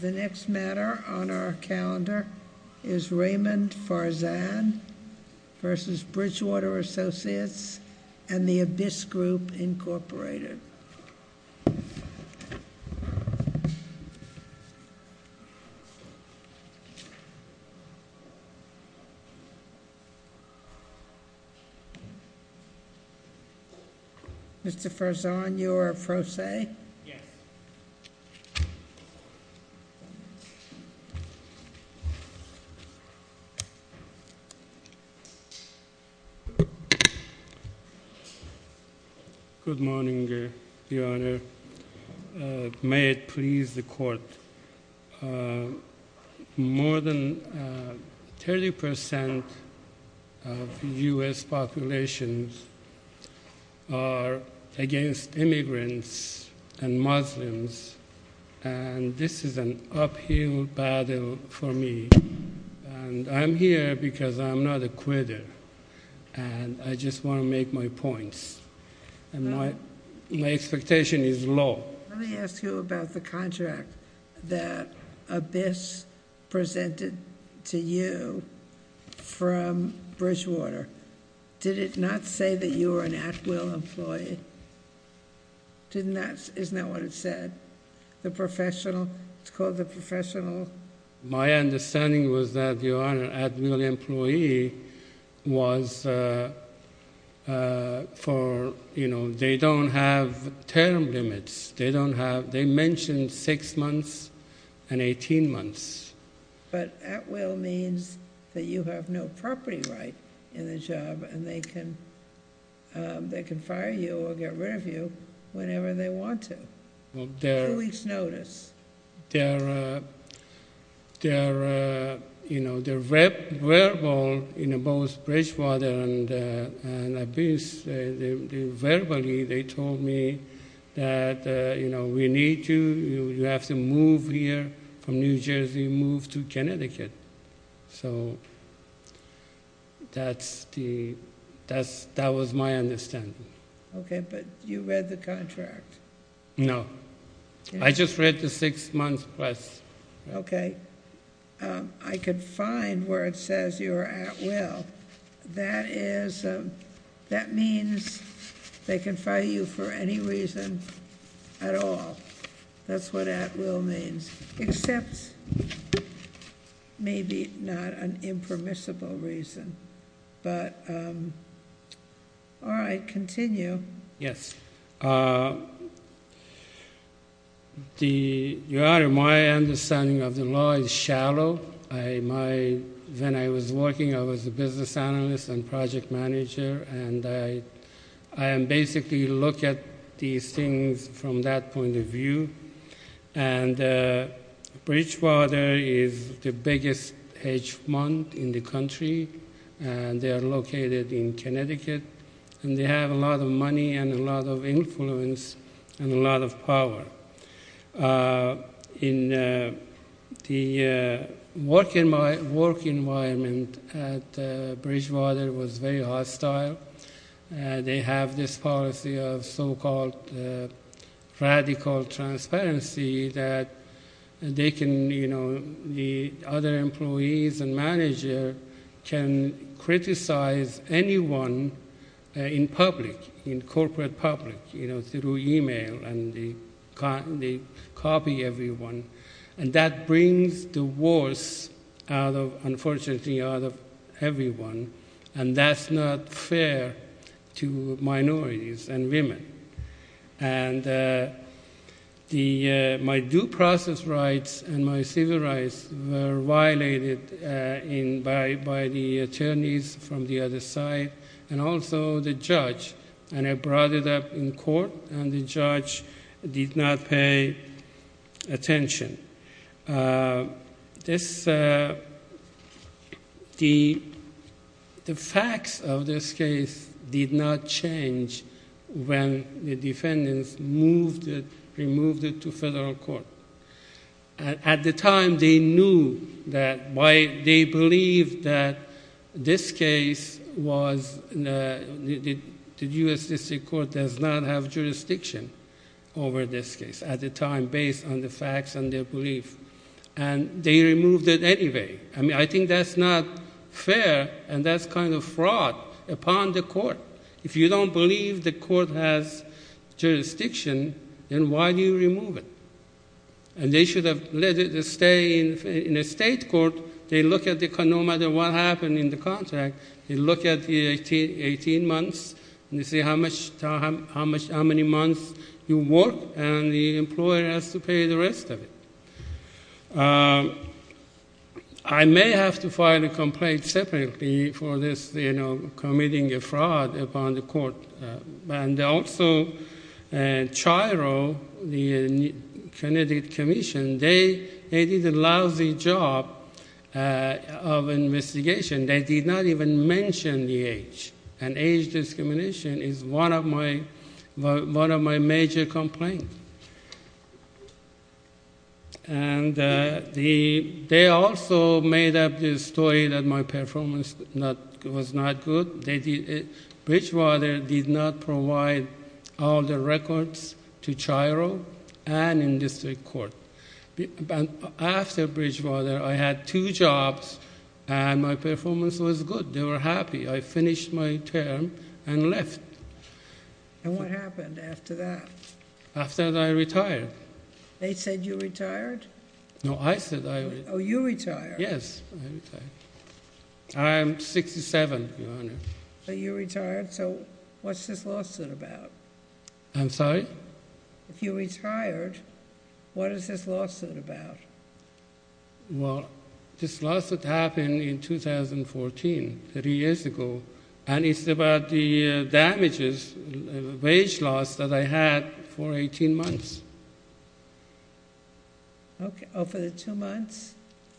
The next matter on our calendar is Raymond Farzan v. Bridgewater Associates and the Abyss Group, Incorporated. Mr. Farzan, you are a pro se? Yes. Good morning, Your Honor. May it please the Court, More than 30% of U.S. populations are against immigrants and Muslims, and this is an uphill battle for me. And I'm here because I'm not a quitter, and I just want to make my points, and my expectation is low. Let me ask you about the contract that Abyss presented to you from Bridgewater. Did it not say that you were an at-will employee? Isn't that what it said? The professional? It's called the professional? My understanding was that, Your Honor, an at-will employee was for, you know, they don't have term limits. They mentioned six months and 18 months. But at-will means that you have no property right in the job, and they can fire you or get rid of you whenever they want to, two weeks' notice. They're, you know, they're verbal, you know, both Bridgewater and Abyss, verbally they told me that, you know, we need you, you have to move here from New Jersey, move to Connecticut. So that's the, that was my understanding. Okay, but you read the contract? No. I just read the six-month request. Okay. I could find where it says you're at-will. That is, that means they can fire you for any reason at all. That's what at-will means, except maybe not an impermissible reason. But, all right, continue. Yes. The, Your Honor, my understanding of the law is shallow. I, my, when I was working, I was a business analyst and project manager, and I basically look at these things from that point of view. And Bridgewater is the biggest hedge fund in the country, and they are located in Connecticut, and they have a lot of money and a lot of influence and a lot of power. In the work environment at Bridgewater was very hostile. They have this policy of so-called radical transparency that they can, you know, the other employees and manager can criticize anyone in public, in corporate public, you know, through email. And they copy everyone. And that brings the worst out of, unfortunately, out of everyone. And that's not fair to minorities and women. And the, my due process rights and my civil rights were violated in, by the attorneys from the other side, and also the judge. And I brought it up in court, and the judge did not pay attention. This, the facts of this case did not change when the defendants moved it, removed it to federal court. At the time, they knew that, they believed that this case was, the U.S. District Court does not have jurisdiction over this case. At the time, based on the facts and their belief. And they removed it anyway. I mean, I think that's not fair, and that's kind of fraud upon the court. If you don't believe the court has jurisdiction, then why do you remove it? And they should have let it stay in a state court. They look at the, no matter what happened in the contract, they look at the 18 months, and they see how much, how many months you work, and the employer has to pay the rest of it. I may have to file a complaint separately for this, you know, committing a fraud upon the court. And also, CHIRO, the Connecticut Commission, they did a lousy job of investigation. They did not even mention the age. And age discrimination is one of my, one of my major complaints. And they also made up this story that my performance was not good. Bridgewater did not provide all the records to CHIRO and in district court. After Bridgewater, I had two jobs, and my performance was good. They were happy. I finished my term and left. And what happened after that? After that, I retired. They said you retired? No, I said I retired. Oh, you retired? Yes, I retired. I am 67, Your Honor. But you retired, so what's this lawsuit about? I'm sorry? If you retired, what is this lawsuit about? Well, this lawsuit happened in 2014, 30 years ago, and it's about the damages, wage loss that I had for 18 months. Oh, for the two months?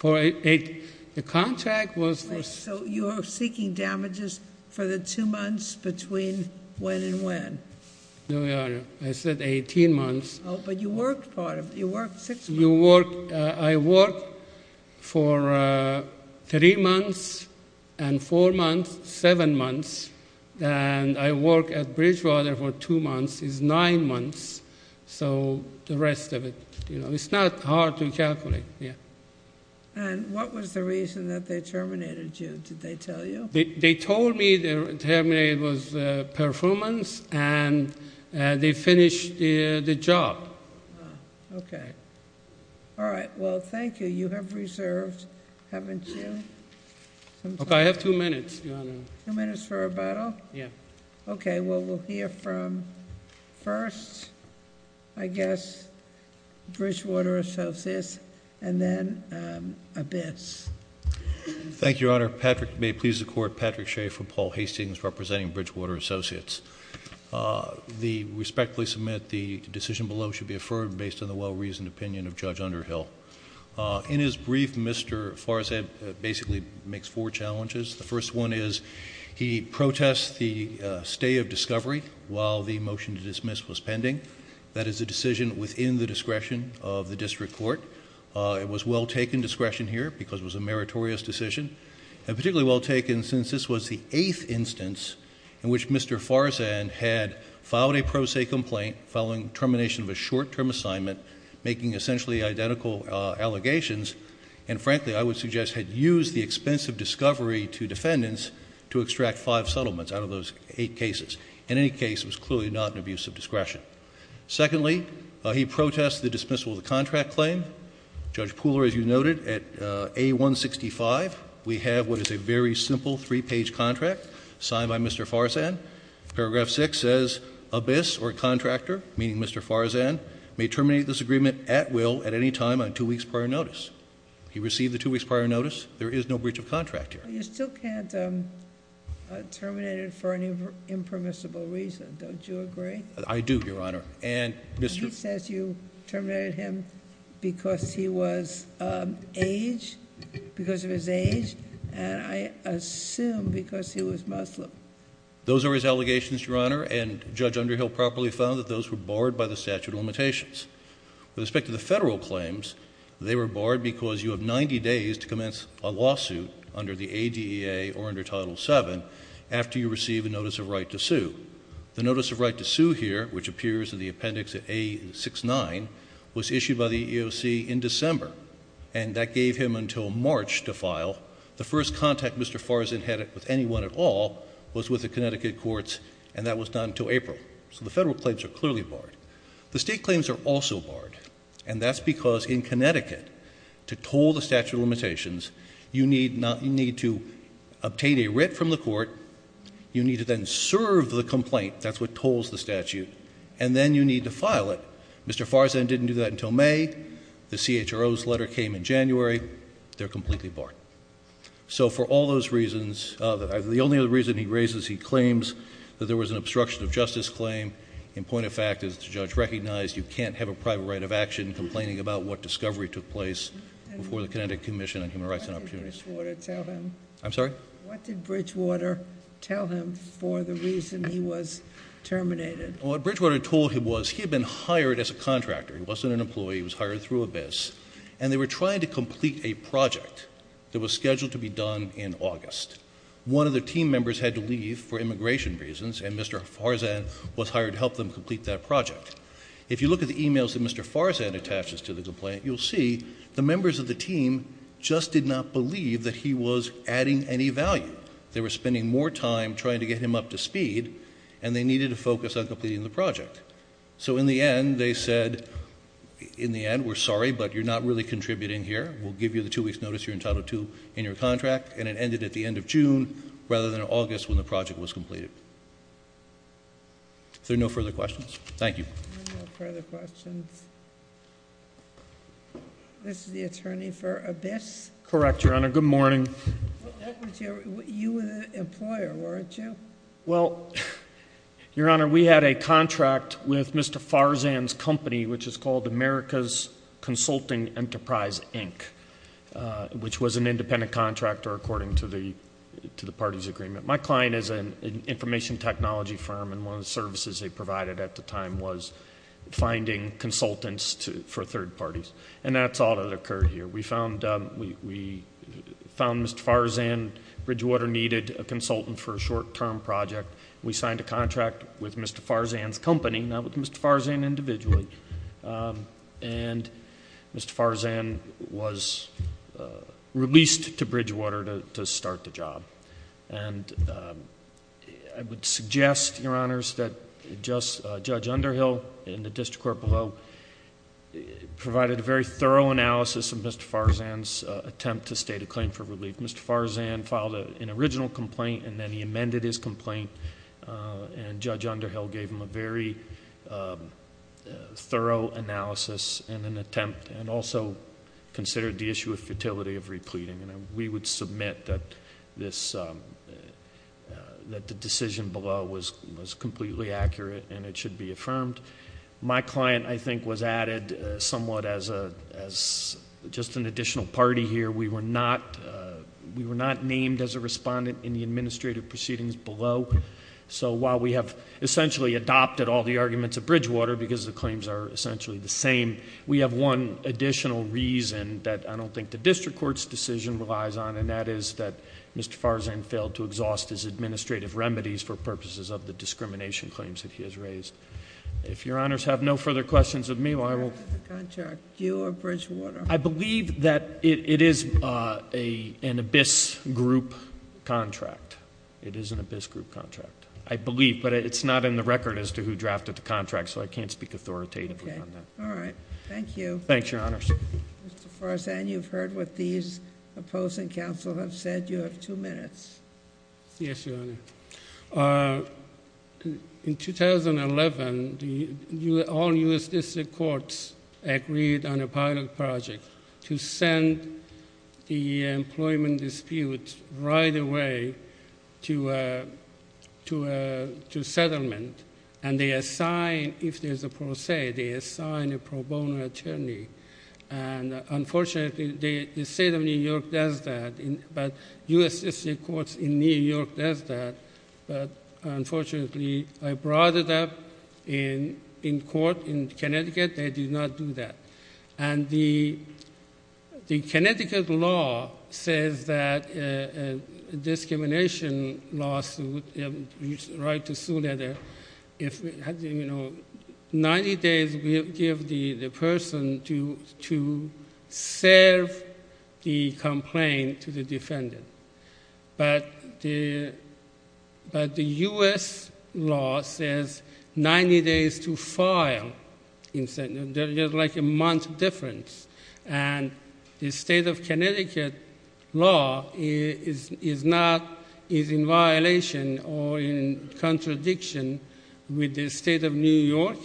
The contract was for... So you were seeking damages for the two months between when and when? No, Your Honor. I said 18 months. Oh, but you worked part of it. You worked six months. I worked for three months and four months, seven months, and I worked at Bridgewater for two months. It's nine months, so the rest of it. It's not hard to calculate. And what was the reason that they terminated you? Did they tell you? They told me they terminated my performance and they finished the job. Oh, okay. All right. Well, thank you. You have reserved, haven't you? Okay, I have two minutes, Your Honor. Two minutes for rebuttal? Yeah. Okay, well, we'll hear from first, I guess, Bridgewater Associates, and then Abyss. Thank you, Your Honor. Patrick, may it please the Court, Patrick Shea from Paul Hastings representing Bridgewater Associates. I respectfully submit the decision below should be affirmed based on the well-reasoned opinion of Judge Underhill. In his brief, Mr. Farzad basically makes four challenges. The first one is he protests the stay of discovery while the motion to dismiss was pending. That is a decision within the discretion of the district court. It was well taken discretion here because it was a meritorious decision, and particularly well taken since this was the eighth instance in which Mr. Farzad had filed a pro se complaint following termination of a short-term assignment, making essentially identical allegations, and frankly, I would suggest had used the expense of discovery to defendants to extract five settlements out of those eight cases. In any case, it was clearly not an abuse of discretion. Secondly, he protests the dismissal of the contract claim. Judge Pooler, as you noted, at A165, we have what is a very simple three-page contract signed by Mr. Farzad. Paragraph 6 says, Abyss or contractor, meaning Mr. Farzad, may terminate this agreement at will at any time on two weeks prior notice. He received the two weeks prior notice. There is no breach of contract here. You still can't terminate it for an impermissible reason. Don't you agree? I do, Your Honor. And Mr. He says you terminated him because he was age, because of his age, and I assume because he was Muslim. Those are his allegations, Your Honor, and Judge Underhill properly found that those were barred by the statute of limitations. With respect to the federal claims, they were barred because you have 90 days to commence a lawsuit under the ADA or under Title VII The notice of right to sue here, which appears in the appendix at A69, was issued by the EEOC in December, and that gave him until March to file. The first contact Mr. Farzad had with anyone at all was with the Connecticut courts, and that was not until April. So the federal claims are clearly barred. The state claims are also barred, and that's because in Connecticut, to toll the statute of limitations, you need to obtain a writ from the court. You need to then serve the complaint. That's what tolls the statute. And then you need to file it. Mr. Farzad didn't do that until May. The CHRO's letter came in January. They're completely barred. So for all those reasons, the only other reason he raises, he claims that there was an obstruction of justice claim. In point of fact, as the judge recognized, you can't have a private right of action complaining about what discovery took place before the Connecticut Commission on Human Rights and Opportunities. What did Bridgewater tell him? I'm sorry? What did Bridgewater tell him for the reason he was terminated? What Bridgewater told him was he had been hired as a contractor. He wasn't an employee. He was hired through ABIS. And they were trying to complete a project that was scheduled to be done in August. One of the team members had to leave for immigration reasons, and Mr. Farzad was hired to help them complete that project. If you look at the emails that Mr. Farzad attaches to the complaint, you'll see the members of the team just did not believe that he was adding any value. They were spending more time trying to get him up to speed, and they needed to focus on completing the project. So in the end, they said, in the end, we're sorry, but you're not really contributing here. We'll give you the two weeks notice you're entitled to in your contract. And it ended at the end of June rather than August when the project was completed. Is there no further questions? Thank you. No further questions. This is the attorney for ABIS? Correct, Your Honor. Good morning. You were the employer, weren't you? Well, Your Honor, we had a contract with Mr. Farzad's company, which is called America's Consulting Enterprise, Inc., which was an independent contractor according to the party's agreement. My client is an information technology firm, and one of the services they provided at the time was finding consultants for third parties, and that's all that occurred here. We found Mr. Farzad Bridgewater needed a consultant for a short-term project. We signed a contract with Mr. Farzad's company, not with Mr. Farzad individually, and Mr. Farzad was released to Bridgewater to start the job. And I would suggest, Your Honors, that Judge Underhill in the district court below provided a very thorough analysis of Mr. Farzad's attempt to state a claim for relief. Mr. Farzad filed an original complaint, and then he amended his complaint, and Judge Underhill gave him a very thorough analysis and an attempt, and also considered the issue of futility of repleting. And we would submit that the decision below was completely accurate and it should be affirmed. My client, I think, was added somewhat as just an additional party here. We were not named as a respondent in the administrative proceedings below, so while we have essentially adopted all the arguments at Bridgewater because the claims are essentially the same, we have one additional reason that I don't think the district court's decision relies on, and that is that Mr. Farzad failed to exhaust his administrative remedies for purposes of the discrimination claims that he has raised. If Your Honors have no further questions of me, I will- Who drafted the contract, you or Bridgewater? I believe that it is an abyss group contract. It is an abyss group contract. I believe, but it's not in the record as to who drafted the contract, so I can't speak authoritatively on that. All right. Thank you. Thanks, Your Honors. Mr. Farzad, you've heard what these opposing counsel have said. You have two minutes. Yes, Your Honor. In 2011, all U.S. district courts agreed on a pilot project to send the employment dispute right away to settlement, and they assign, if there's a pro se, they assign a pro bono attorney. And unfortunately, the state of New York does that, but U.S. district courts in New York does that. But unfortunately, I brought it up in court in Connecticut. They did not do that. And the Connecticut law says that a discrimination lawsuit, a right to sue letter, if it has, you know, 90 days, we'll give the person to serve the complaint to the defendant. But the U.S. law says 90 days to file. There's like a month difference. And the state of Connecticut law is not, is in violation or in contradiction with the state of New York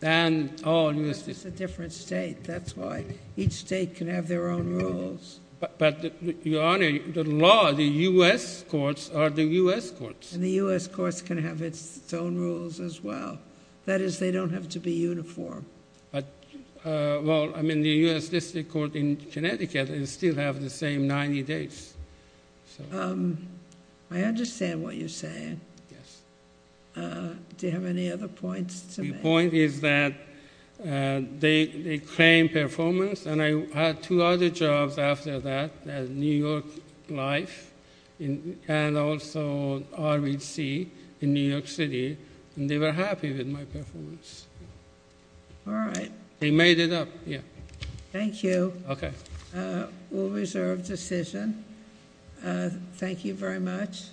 and all U.S. districts. That's a different state. That's why each state can have their own rules. But, Your Honor, the law, the U.S. courts are the U.S. courts. And the U.S. courts can have its own rules as well. That is, they don't have to be uniform. But, well, I mean, the U.S. district court in Connecticut still have the same 90 days. I understand what you're saying. Yes. Do you have any other points to make? My point is that they claim performance. And I had two other jobs after that, New York Life and also RBC in New York City. And they were happy with my performance. All right. They made it up. Yeah. Thank you. Okay. We'll reserve decision. Thank you very much.